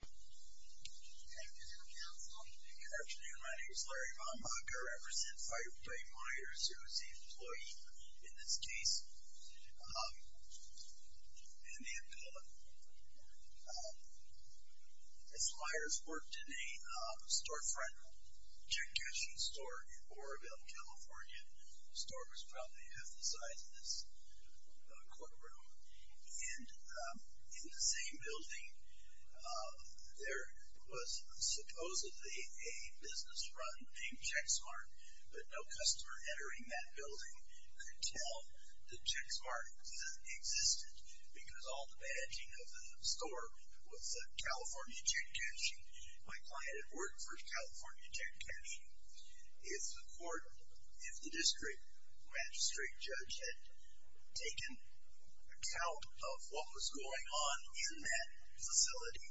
Good afternoon, my name is Larry Von Baca, I represent Faiupu Myers, who is the employee in this case. As Myers worked in a storefront check cashing store in Oroville, California. The store was probably half the size of this courtroom. And in the same building, there was supposedly a business run named Checksmart. But no customer entering that building could tell that Checksmart existed. Because all the badging of the store was California check cashing. My client had worked for California check cashing. If the district magistrate judge had taken account of what was going on in that facility,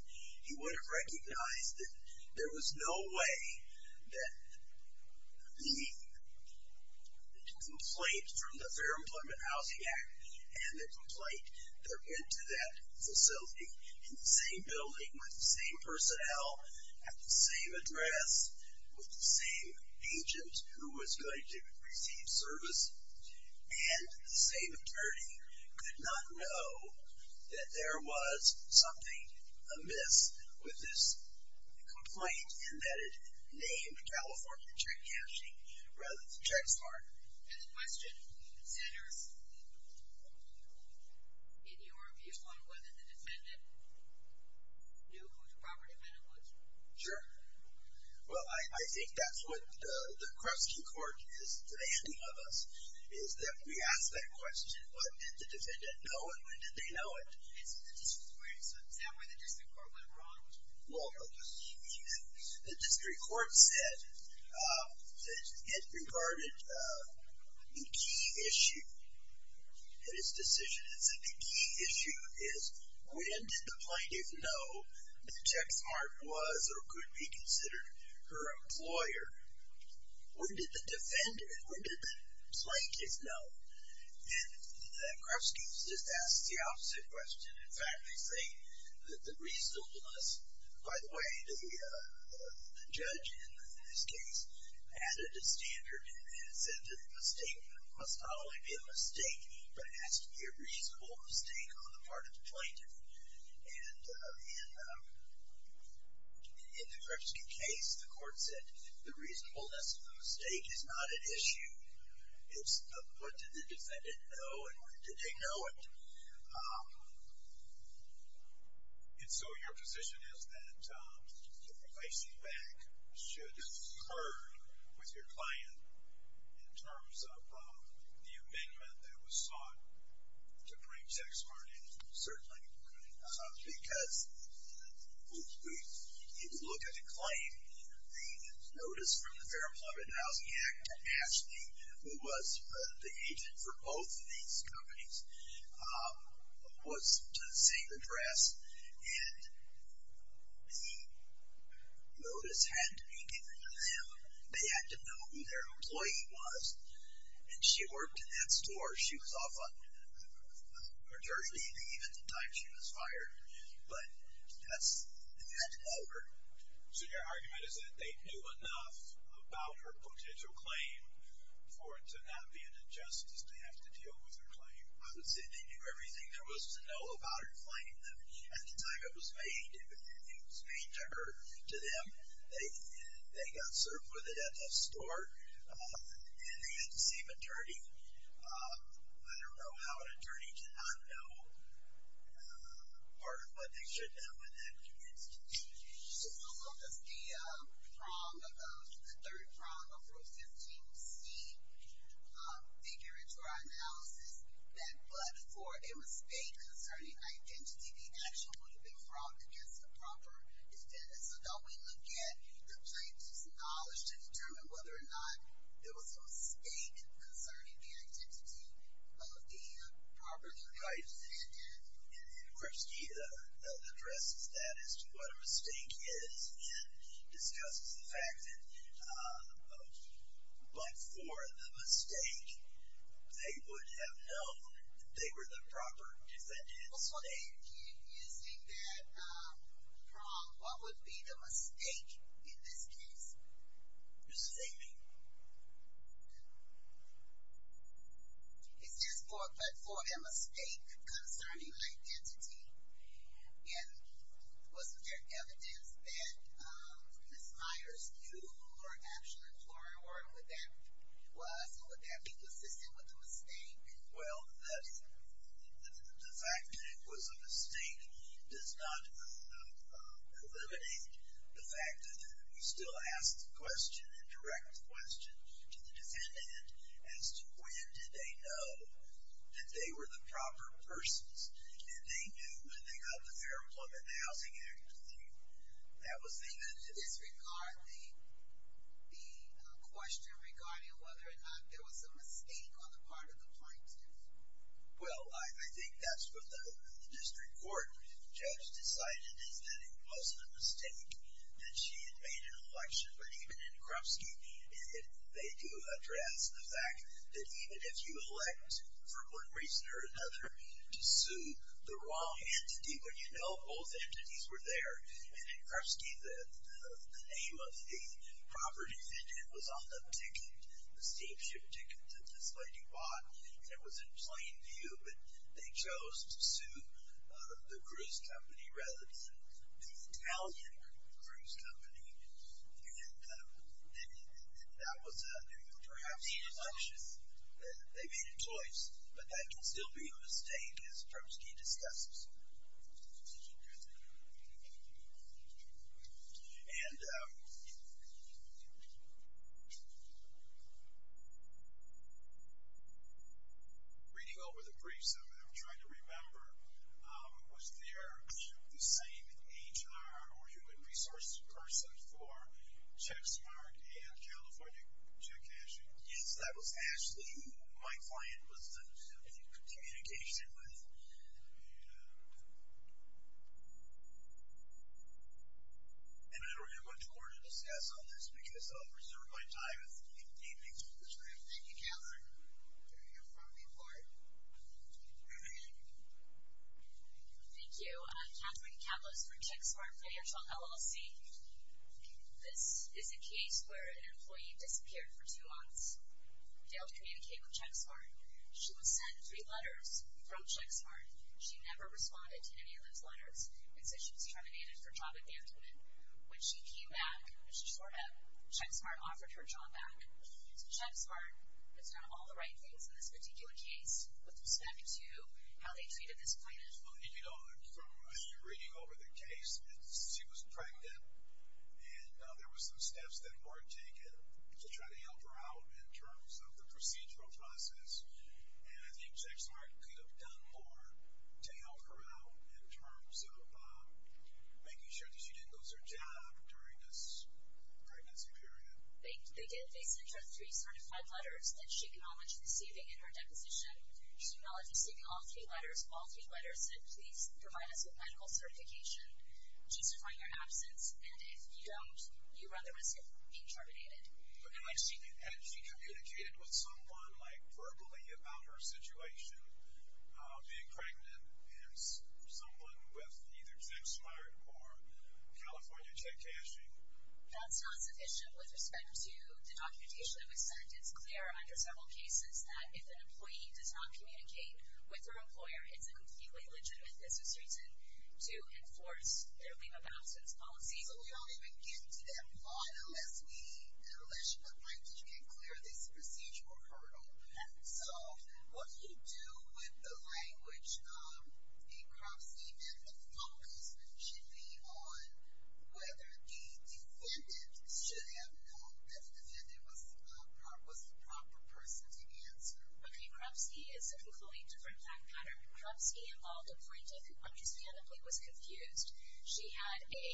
he would have recognized that there was no way that the complaint from the Fair Employment Housing Act and the complaint that went to that facility in the same building, with the same personnel, at the same address, with the same agent who was going to receive service. And the same attorney could not know that there was something amiss with this complaint in that it named California check cashing rather than Checksmart. And the question centers in your view on whether the defendant knew who the proper defendant was. Sure. Well, I think that's what the Creston court is demanding of us, is that we ask that question. Did the defendant know it? Did they know it? Is that where the district court went wrong? Well, the district court said it regarded a key issue in its decision. It said the key issue is when did the plaintiff know that Checksmart was or could be considered her employer? When did the defendant, when did the plaintiff know? And the Creston case asks the opposite question. In fact, they say that the reasonableness, by the way, the judge in this case added a standard and said that the mistake must not only be a mistake, but it has to be a reasonable mistake on the part of the plaintiff. And in the Creston case, the court said the reasonableness of the mistake is not an issue. But did the defendant know, and did they know it? And so your position is that the replacing back should have occurred with your client in terms of the amendment that was sought to bring Checksmart in? Certainly. Because if you look at the claim, the notice from the Fair Employment and Housing Act that asked me who was the agent for both of these companies was to the same address. And the notice had to be given to them. They had to know who their employee was. And she worked in that store. She was off on Thursday evening, even the time she was fired. But that's over. So your argument is that they knew enough about her potential claim for it to not be an injustice to have to deal with her claim? I would say they knew everything there was to know about her claim. At the time it was made, it was made to her, to them. They got served with it at that store. And they had the same attorney. I don't know how an attorney could not know part of what they should have when that commenced. Just to look at the prong, the third prong of Rule 15C, figure into our analysis that but for a mistake concerning identity, the action would have been frowned against the proper defendant. So don't we look at the plaintiff's knowledge to determine whether or not there was a mistake concerning the identity of the proper defendant? Right. And Kripsky addresses that as to what a mistake is and discusses the fact that but for the mistake, they would have known that they were the proper defendant. Well, so then using that prong, what would be the mistake in this case? Ms. Amy. It's just but for a mistake concerning identity. And was there evidence that Ms. Myers knew who her actual employer was and would that be consistent with the mistake? Well, the fact that it was a mistake does not eliminate the fact that we still ask the question and direct the question to the defendant as to when did they know that they were the proper persons. And they knew when they got the Fair Employment and Housing Act. That was the evidence. Is regarding the question regarding whether or not there was a mistake on the part of the plaintiff? Well, I think that's what the district court judge decided is that it wasn't a mistake that she had made an election. But even in Kripsky, they do address the fact that even if you elect for one reason or another to sue the wrong entity, but you know both entities were there. And in Kripsky, the name of the proper defendant was on the ticket, the steamship ticket that this lady bought. And it was in plain view, but they chose to sue the cruise company rather than the Italian cruise company. And that was perhaps an election. They made a choice, but that can still be a mistake as Kripsky discusses. Thank you. And reading over the briefs, I'm trying to remember, was there the same HR or human resources person for Check Smart and California Check Cashing? Yes, that was Ashley who my client was in communication with. And I don't have much more to discuss on this because I'll reserve my time if anything comes to mind. Thank you, Catherine. You're from the court. Moving on. Thank you. I'm Catherine Campos from Check Smart Financial, LLC. This is a case where an employee disappeared for two months. Failed to communicate with Check Smart. She was sent three letters from Check Smart. She never responded to any of those letters and said she was terminated for job advancement. When she came back, when she showed up, Check Smart offered her job back. So Check Smart has done all the right things in this particular case with respect to how they treated this client. And, you know, from reading over the case, she was pregnant, and there were some steps that were taken to try to help her out in terms of the procedural process. And I think Check Smart could have done more to help her out in terms of making sure that she didn't lose her job during this pregnancy period. They did face interest to receive five letters. Did she acknowledge receiving in her deposition? She acknowledged receiving all three letters. All three letters said, please provide us with medical certification, justify your absence, and if you don't, you run the risk of being terminated. But had she communicated with someone, like, verbally about her situation, being pregnant, and someone with either Check Smart or California check cashing? That's not sufficient with respect to the documentation that was sent. It's clear under several cases that if an employee does not communicate with their employer, it's a completely legitimate business reason to enforce their leave of absence policy. So we don't even get to that point unless the plaintiff can clear this procedural hurdle. So what do you do with the language? The Kroposky method focuses generally on whether the defendant should have known that the defendant was the proper person to answer. Okay, Kroposky is a completely different fact pattern. Kroposky involved a plaintiff who understandably was confused. She had a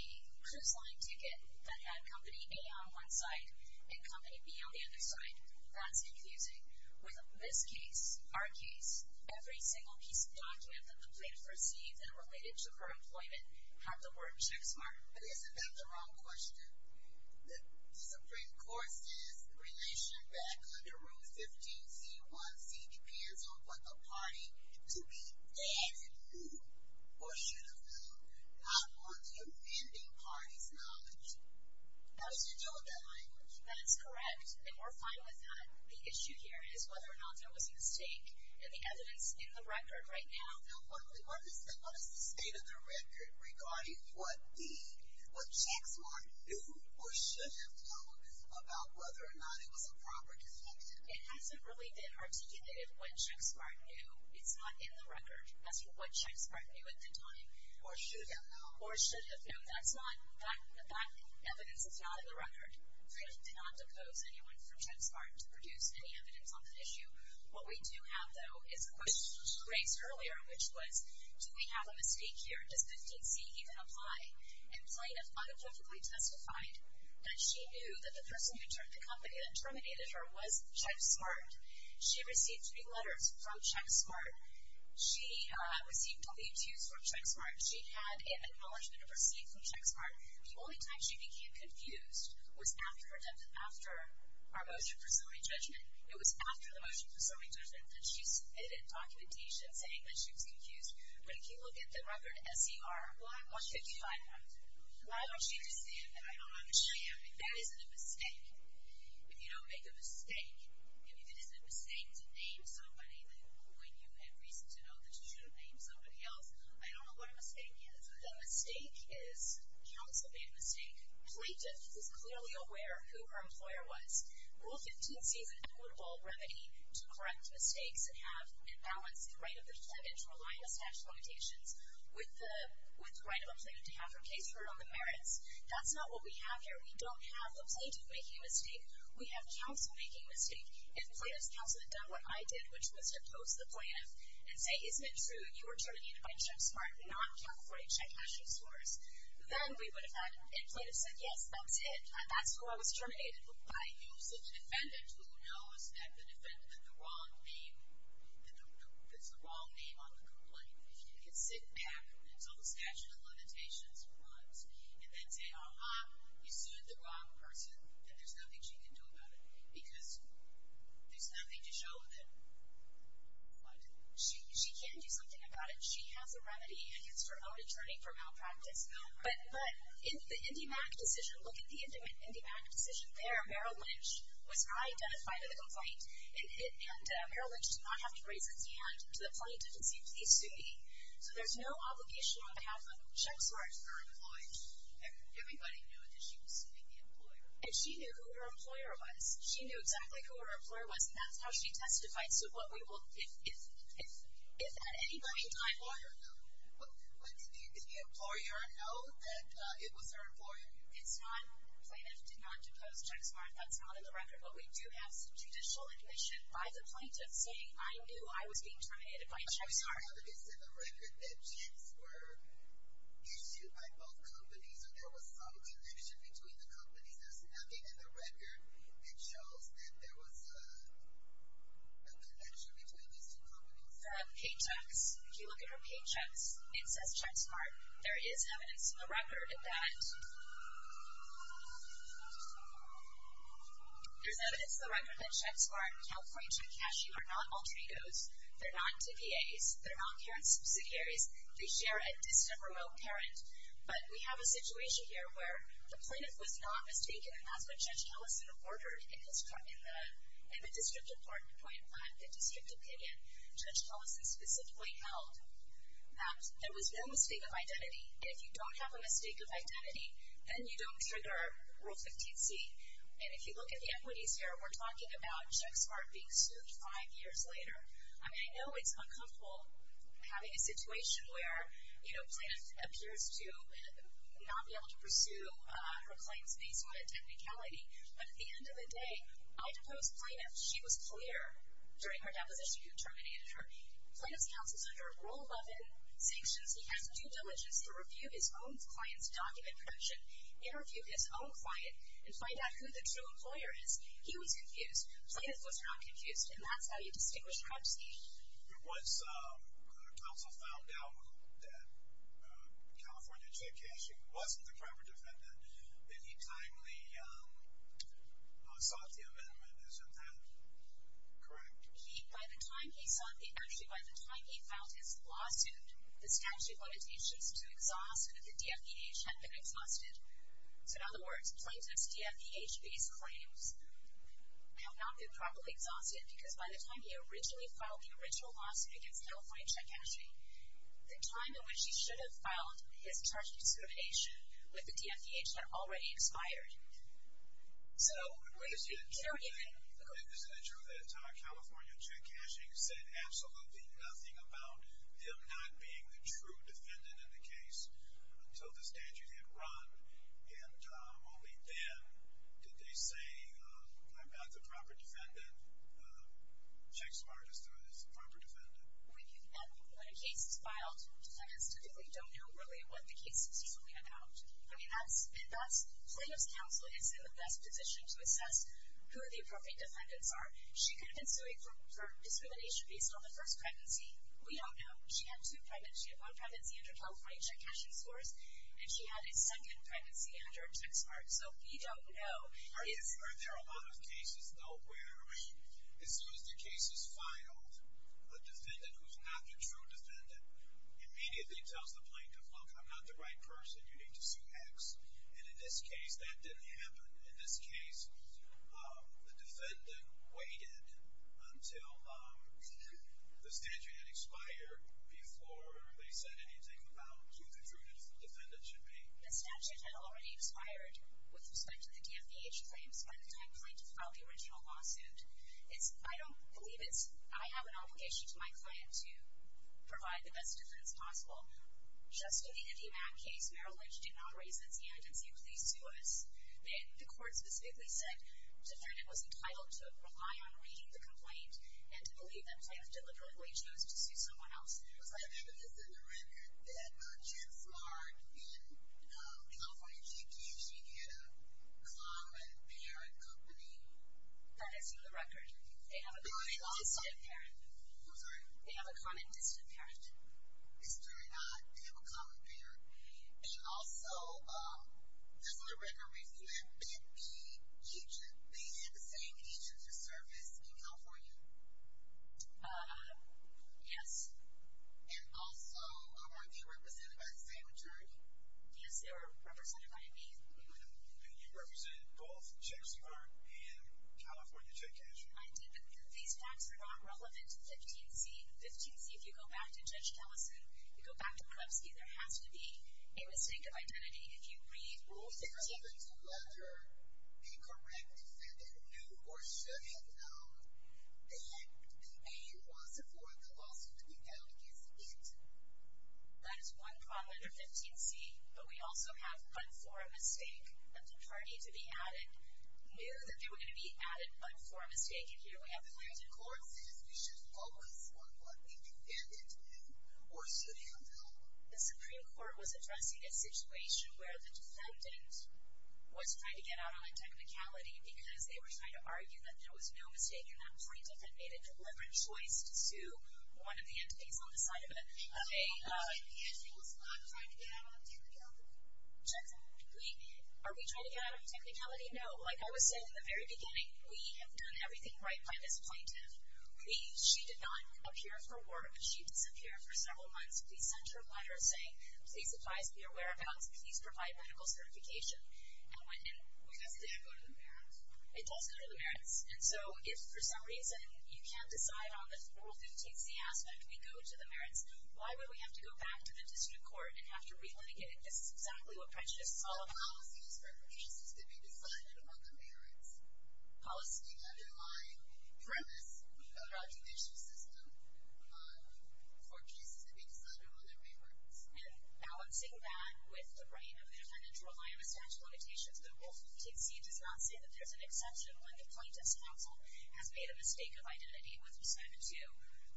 cruise line ticket that had company A on one side and company B on the other side. That's confusing. With this case, our case, every single piece of document that the plaintiff received that related to her employment had the word Check Smart. But isn't that the wrong question? The Supreme Court says the relationship back under Rule 15c.1c depends on what the party, to be added, knew or should have known, not on the offending party's knowledge. How do you deal with that language? That is correct, and we're fine with that. The issue here is whether or not there was a mistake in the evidence in the record right now. Now what is the state of the record regarding what the Check Smart knew or should have known about whether or not it was a proper defective? It hasn't really been articulated what Check Smart knew. It's not in the record as to what Check Smart knew at the time. Or should have known. Or should have known. That evidence is not in the record. We do not oppose anyone from Check Smart to produce any evidence on the issue. What we do have, though, is a question that was raised earlier, which was do we have a mistake here? Does 15c even apply? And plaintiff unambiguously testified that she knew that the person who termed the company that terminated her was Check Smart. She received three letters from Check Smart. She received only two from Check Smart. She had an acknowledgment of her state from Check Smart. The only time she became confused was after our motion presuming judgment. It was after the motion presuming judgment that she submitted documentation saying that she was confused. But if you look at the record, SCR 155, why don't you understand that I don't understand? I mean, that isn't a mistake. If you don't make a mistake, if it isn't a mistake to name somebody, then when you had reason to know that you shouldn't name somebody else, I don't know what a mistake is. The mistake is counsel made a mistake. Plaintiff was clearly aware of who her employer was. Rule 15c is an equitable remedy to correct mistakes and balance the right of the defendant to rely on the statute of limitations with the right of a plaintiff to have her case heard on the merits. That's not what we have here. We don't have a plaintiff making a mistake. We have counsel making a mistake. If plaintiff's counsel had done what I did, which was to post the plaintiff and say, isn't it true you were terminated by Check Smart, not California Check Cash Resource, then we would have had, and plaintiff said, yes, that's it, that's who I was terminated. I used the defendant who knows that the defendant had the wrong name on the complaint. If you can sit back until the statute of limitations runs and then say, ah-ha, you sued the wrong person, then there's nothing she can do about it because there's nothing to show that she can do something about it. She has a remedy, and it's her own attorney for malpractice. But the IndyMac decision, look at the IndyMac decision there. Merrill Lynch was identified in the complaint, and Merrill Lynch did not have to raise his hand to the plaintiff and say, please sue me. So there's no obligation on behalf of Check Smart to her employee. Everybody knew that she was suing the employer. And she knew who her employer was. She knew exactly who her employer was, and that's how she testified. So what we will, if at any point in time... But did the employer know that it was her employer? It's not, plaintiff did not depose Check Smart. That's not in the record. But we do have some judicial admission by the plaintiff saying, I knew I was being terminated by Check Smart. Is there evidence in the record that checks were issued by both companies or there was some connection between the companies? There's nothing in the record that shows that there was a connection between these two companies. The paychecks. If you look at her paychecks, it says Check Smart. There is evidence in the record that... There's evidence in the record that Check Smart, California Check Cashier, are not alter egos. They're not TPAs. They're not parent subsidiaries. They share a distant, remote parent. But we have a situation here where the plaintiff was not mistaken, and that's what Judge Ellison ordered in the district opinion Judge Ellison specifically held, that there was no mistake of identity. And if you don't have a mistake of identity, then you don't trigger Rule 15c. And if you look at the equities here, we're talking about Check Smart being sued five years later. I mean, I know it's uncomfortable having a situation where, you know, plaintiff appears to not be able to pursue her claims based on a technicality. But at the end of the day, I deposed plaintiff. She was clear during her deposition who terminated her. Plaintiff's counsel is under Rule 11 sanctions. He has due diligence to review his own client's document protection, interview his own client, and find out who the true employer is. He was confused. Plaintiff was not confused. And that's how you distinguish a crime scheme. Once counsel found out that California J.K. Sheehan wasn't the crime or defendant, then he timely sought the amendment. Isn't that correct? He, by the time he sought the, actually, by the time he filed his lawsuit, the statute limitations to exhaust the DFEH had been exhausted. So, in other words, plaintiff's DFEH-based claims have not been properly exhausted because by the time he originally filed the original lawsuit against California J.K. Sheehan, the time in which he should have filed his charge of discrimination with the DFEH had already expired. So, he don't even. Isn't it true that California J.K. Sheehan said absolutely nothing about him not being the true defendant in the case until the statute had run? And only then did they say, I'm not the proper defendant. Check Smart is the proper defendant. When a case is filed, defendants typically don't know really what the case is really about. I mean, plaintiff's counsel is in the best position to assess who the appropriate defendants are. She could have been suing for discrimination based on the first pregnancy. We don't know. She had two pregnancies. She had one pregnancy under California J.K. Sheehan's course, and she had a second pregnancy under Check Smart. So, we don't know. Are there a lot of cases, though, where as soon as the case is filed, a defendant who's not the true defendant immediately tells the plaintiff, look, I'm not the right person. You need to sue X. And in this case, that didn't happen. In this case, the defendant waited until the statute had expired before they said anything about who the true defendant should be. The statute had already expired with respect to the DMPH claims by the time plaintiff filed the original lawsuit. I don't believe it's – I have an obligation to my client to provide the best defense possible. Just in the Indyman case, Merrill Lynch did not raise his hand and say, please sue us. The court specifically said the defendant was entitled to rely on reading the complaint and to believe that plaintiff deliberately chose to sue someone else. Was there evidence in the record that Check Smart in California J.K. She had a common parent company? That is in the record. They have a common distant parent. I'm sorry? They have a common distant parent. It's true or not? They have a common parent. And also, this is in the record. You had Ben B. Eugen. They had the same agent who served as email for you? Yes. And also, were they represented by the same attorney? Yes, they were represented by me. And you represented both Check Smart and California J.K. I did, but these facts are not relevant to 15C. 15C, if you go back to Judge Tellison, you go back to Klebski, there has to be a mistake of identity. If you read Rule 15, If it's relevant to whether a correct defendant knew or should have known that the aim was for the lawsuit to be held, is it? That is one problem under 15C. But we also have but for a mistake of the party to be added, knew that they were going to be added but for a mistake. The Supreme Court says we should focus on what the defendant knew or should have known. The Supreme Court was addressing a situation where the defendant was trying to get out on a technicality because they were trying to argue that there was no mistake and that the plaintiff had made a deliberate choice to sue one of the entities on the side of it. So, in the end, it was not trying to get out on a technicality? Are we trying to get out on a technicality? No. Like I was saying in the very beginning, we have done everything right by this plaintiff. She did not appear for work. She disappeared for several months. We sent her a letter saying, please advise, be aware of health, please provide medical certification and went in. It doesn't go to the merits? It does go to the merits. And so, if for some reason you can't decide on the Rule 15C aspect, we go to the merits. Why would we have to go back to the district court and have to relitigate it? This is exactly what prejudice is all about. Policy is for cases to be decided among the merits. Policy can't underline the premise of the judicial system for cases to be decided among the merits. And balancing that with the right of the defendant to rely on the statute of limitations, the Rule 15C does not say that there's an exception when the plaintiff's counsel has made a mistake of identity with respect to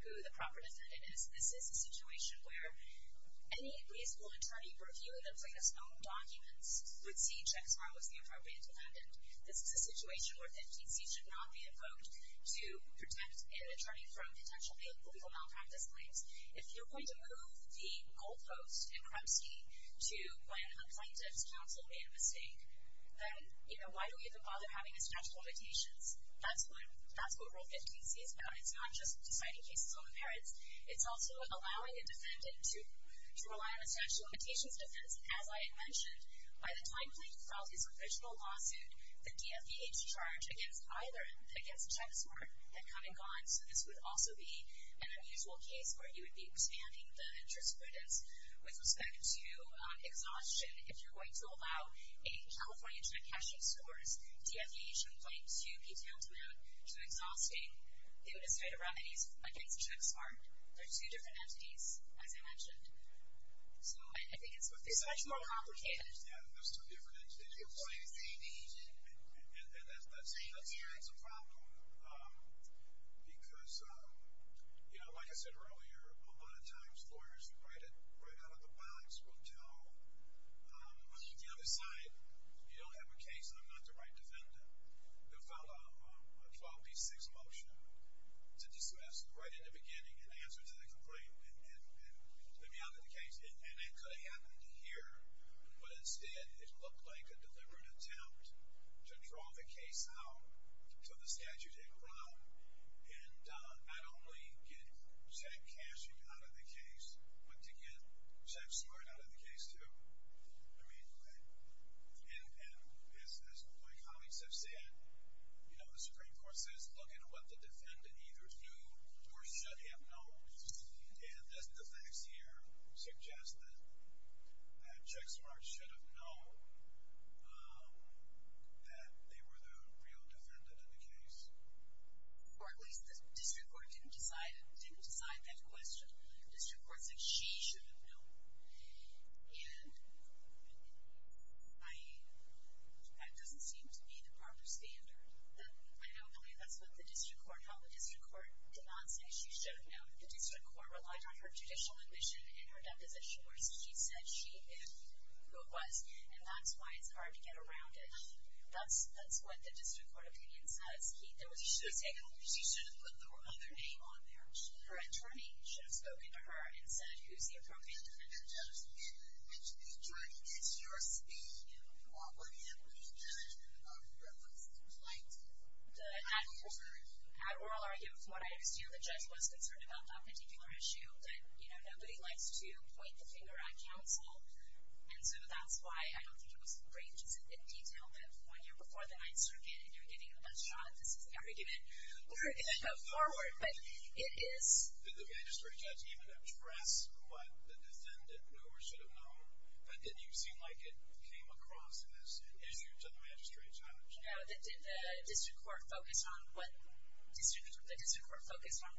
who the proper defendant is. This is a situation where any reasonable attorney reviewing the plaintiff's own documents would see checks on who is the appropriate defendant. This is a situation where 15C should not be invoked to protect an attorney from potentially legal malpractice claims. If you're going to move the goalpost in Kremski to when the plaintiff's counsel made a mistake, then why do we even bother having the statute of limitations? That's what Rule 15C is about. It's not just deciding cases on the merits. It's also allowing a defendant to rely on the statute of limitations defense. As I had mentioned, by the time the plaintiff filed his original lawsuit, the DFVH charge against either him, against Chexmark, had come and gone. So this would also be an unusual case where you would be expanding the jurisprudence with respect to exhaustion. If you're going to allow a California internet caching source, DFVH in point two detailed throughout, which is exhausting, they would have cited remedies against Chexmark. They're two different entities, as I mentioned. So I think it's much more complicated. Yeah, and there's two different entities. And that's a problem because, you know, like I said earlier, a lot of times lawyers who write out of the box will tell the other side, you don't have a case and I'm not the right defendant, to file a 12B6 motion to dismiss right in the beginning and answer to the complaint and let me out of the case. And that could have happened here, but instead it looked like a deliberate attempt to draw the case out so the statute didn't run. And not only get check caching out of the case, but to get Chexmark out of the case too. I mean, and as my colleagues have said, you know, the Supreme Court says, look into what the defendant either knew or should have known. And the facts here suggest that Chexmark should have known that they were the real defendant in the case. Or at least the district court didn't decide that question. The district court said she should have known. And that doesn't seem to be the proper standard. I don't believe that's what the district court held. The district court did not say she should have known. The district court relied on her judicial admission and her deposition. She said she knew who it was and that's why it's hard to get around it. That's what the district court opinion says. She should have put their other name on there. Her attorney should have spoken to her and said, who's the appropriate defendant? And the judge said, the attorney gets your speed. You know, we want what you believe in. You know, what it seems like. The ad oral argument from what I understand, the judge was concerned about that particular issue. And, you know, nobody likes to point the finger at counsel. And so that's why I don't think it was arranged in detail that one year before the Ninth Circuit, and you're getting the best shot at this argument, we're going to go forward. But it is. Did the magistrate judge even address what the defendant knew or should have known? Or did you seem like it came across as an issue to the magistrate judge? No. The district court focused on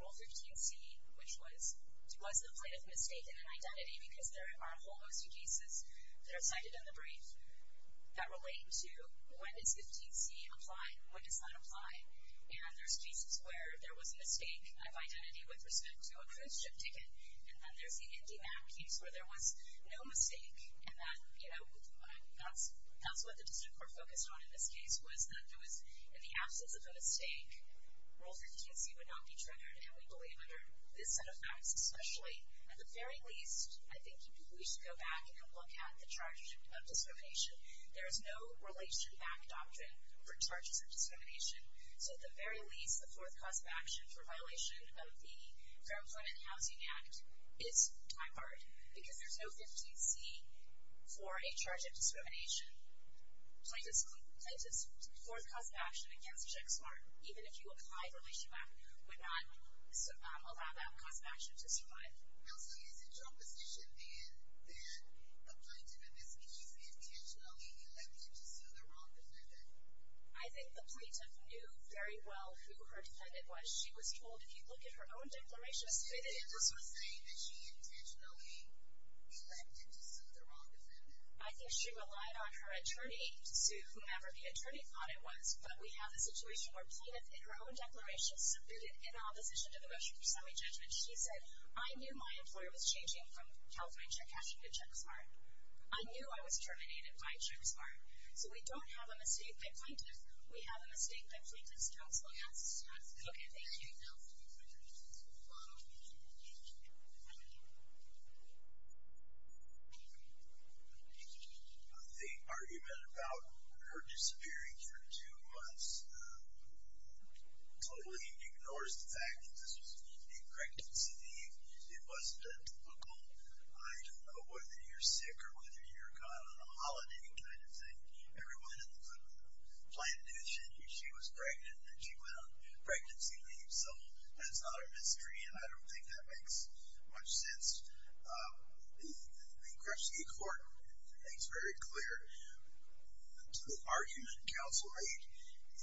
Rule 15c, which was the plaintiff mistaken in identity because there are a whole host of cases that are cited in the brief that relate to when does 15c apply and when does not apply. And there's cases where there was a mistake of identity with respect to a cruise ship ticket. And then there's the Indy map case where there was no mistake. And that, you know, that's what the district court focused on in this case, was that there was, in the absence of a mistake, Rule 15c would not be triggered. And we believe under this set of facts, especially, at the very least, I think we should go back and look at the charges of discrimination. There is no relation back doctrine for charges of discrimination. So, at the very least, the fourth cause of action for violation of the Fair Employment and Housing Act is time hard because there's no 15c for a charge of discrimination. Plaintiff's fourth cause of action against Jack Smart, even if you apply the relation back, would not allow that cause of action to survive. Also, is it your position then that the plaintiff is intentionally electing to sue the wrong defendant? I think the plaintiff knew very well who her defendant was. She was told, if you look at her own declaration, the plaintiff was saying that she intentionally elected to sue the wrong defendant. I think she relied on her attorney to sue whomever the attorney thought it was. But we have a situation where plaintiff, in her own declaration, subpoenaed in opposition to the motion for semi-judgment. She said, I knew my employer was changing from California check cashing to Jack Smart. I knew I was terminated by Jack Smart. So we don't have a mistake by plaintiff. We have a mistake by plaintiff's counsel. Yes. Okay, thank you. The argument about her disappearing for two months totally ignores the fact that this was an incorrect decision. It wasn't a typical, I don't know, whether you're sick or whether you're gone on a holiday kind of thing. Everyone in the plaintiff knew she was pregnant, and she went on pregnancy leave. So that's not a mystery, and I don't think that makes much sense. The question in court makes very clear to the argument in counsel eight.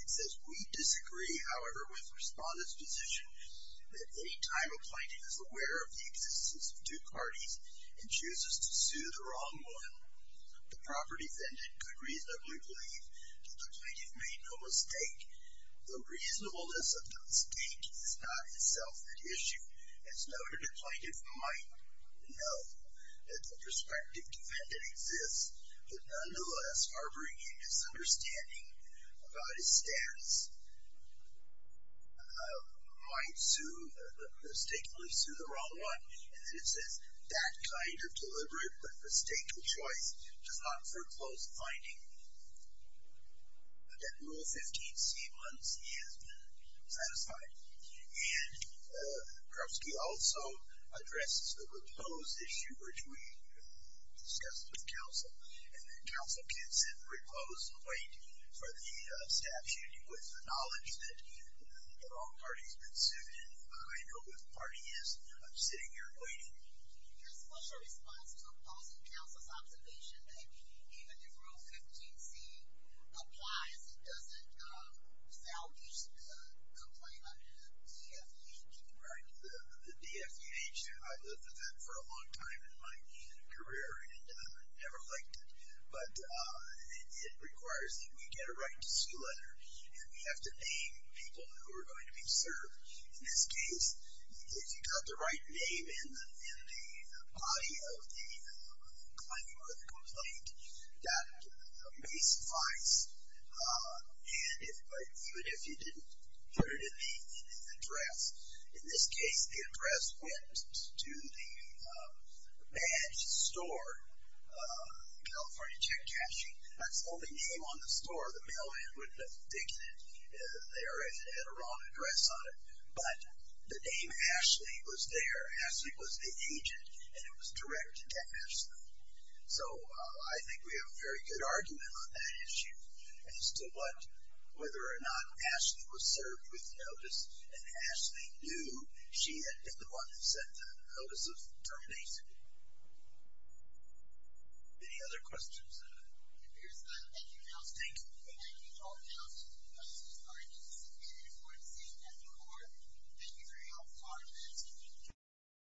It says, we disagree, however, with Respondent's position that any time a plaintiff is aware of the existence of due parties and chooses to sue the wrong one, the proper defendant could reasonably believe the plaintiff made no mistake. The reasonableness of the mistake is not itself an issue. It's noted a plaintiff might know that the prospective defendant exists, but nonetheless, harboring a misunderstanding about his stance, might mistakenly sue the wrong one. And it says that kind of deliberate but mistaken choice does not foreclose finding that Rule 15C blunts he has been satisfied. And Krupsky also addresses the reclose issue, which we discussed with counsel. And then counsel gets in reclose wait for the statute with the knowledge that the wrong party's been sued, and who I know who the party is. I'm sitting here waiting. There's special response to a policy counsel's observation that even if Rule 15C applies, it doesn't salvage the complaint under the DFUH. Right. The DFUH, I've looked at that for a long time in my career, and never liked it. But it requires that we get a right to sue letter, and we have to name people who are going to be served. In this case, if you got the right name in the body of the claimant or the complaint, that may suffice. And even if you didn't put it in the address, in this case, the address went to the badge store, California Check Cashing. That's the only name on the store. The mailman wouldn't have digged it. They already had a wrong address on it. But the name Ashley was there. Ashley was the agent, and it was directed at Ashley. So I think we have a very good argument on that issue as to whether or not Ashley was served with notice, and Ashley knew she had been the one who sent the notice of termination. Any other questions? If there's none, thank you, counsel. Thank you. Thank you, all of you. This has been a very important scene at the court. Thank you very much. Thank you. Thank you.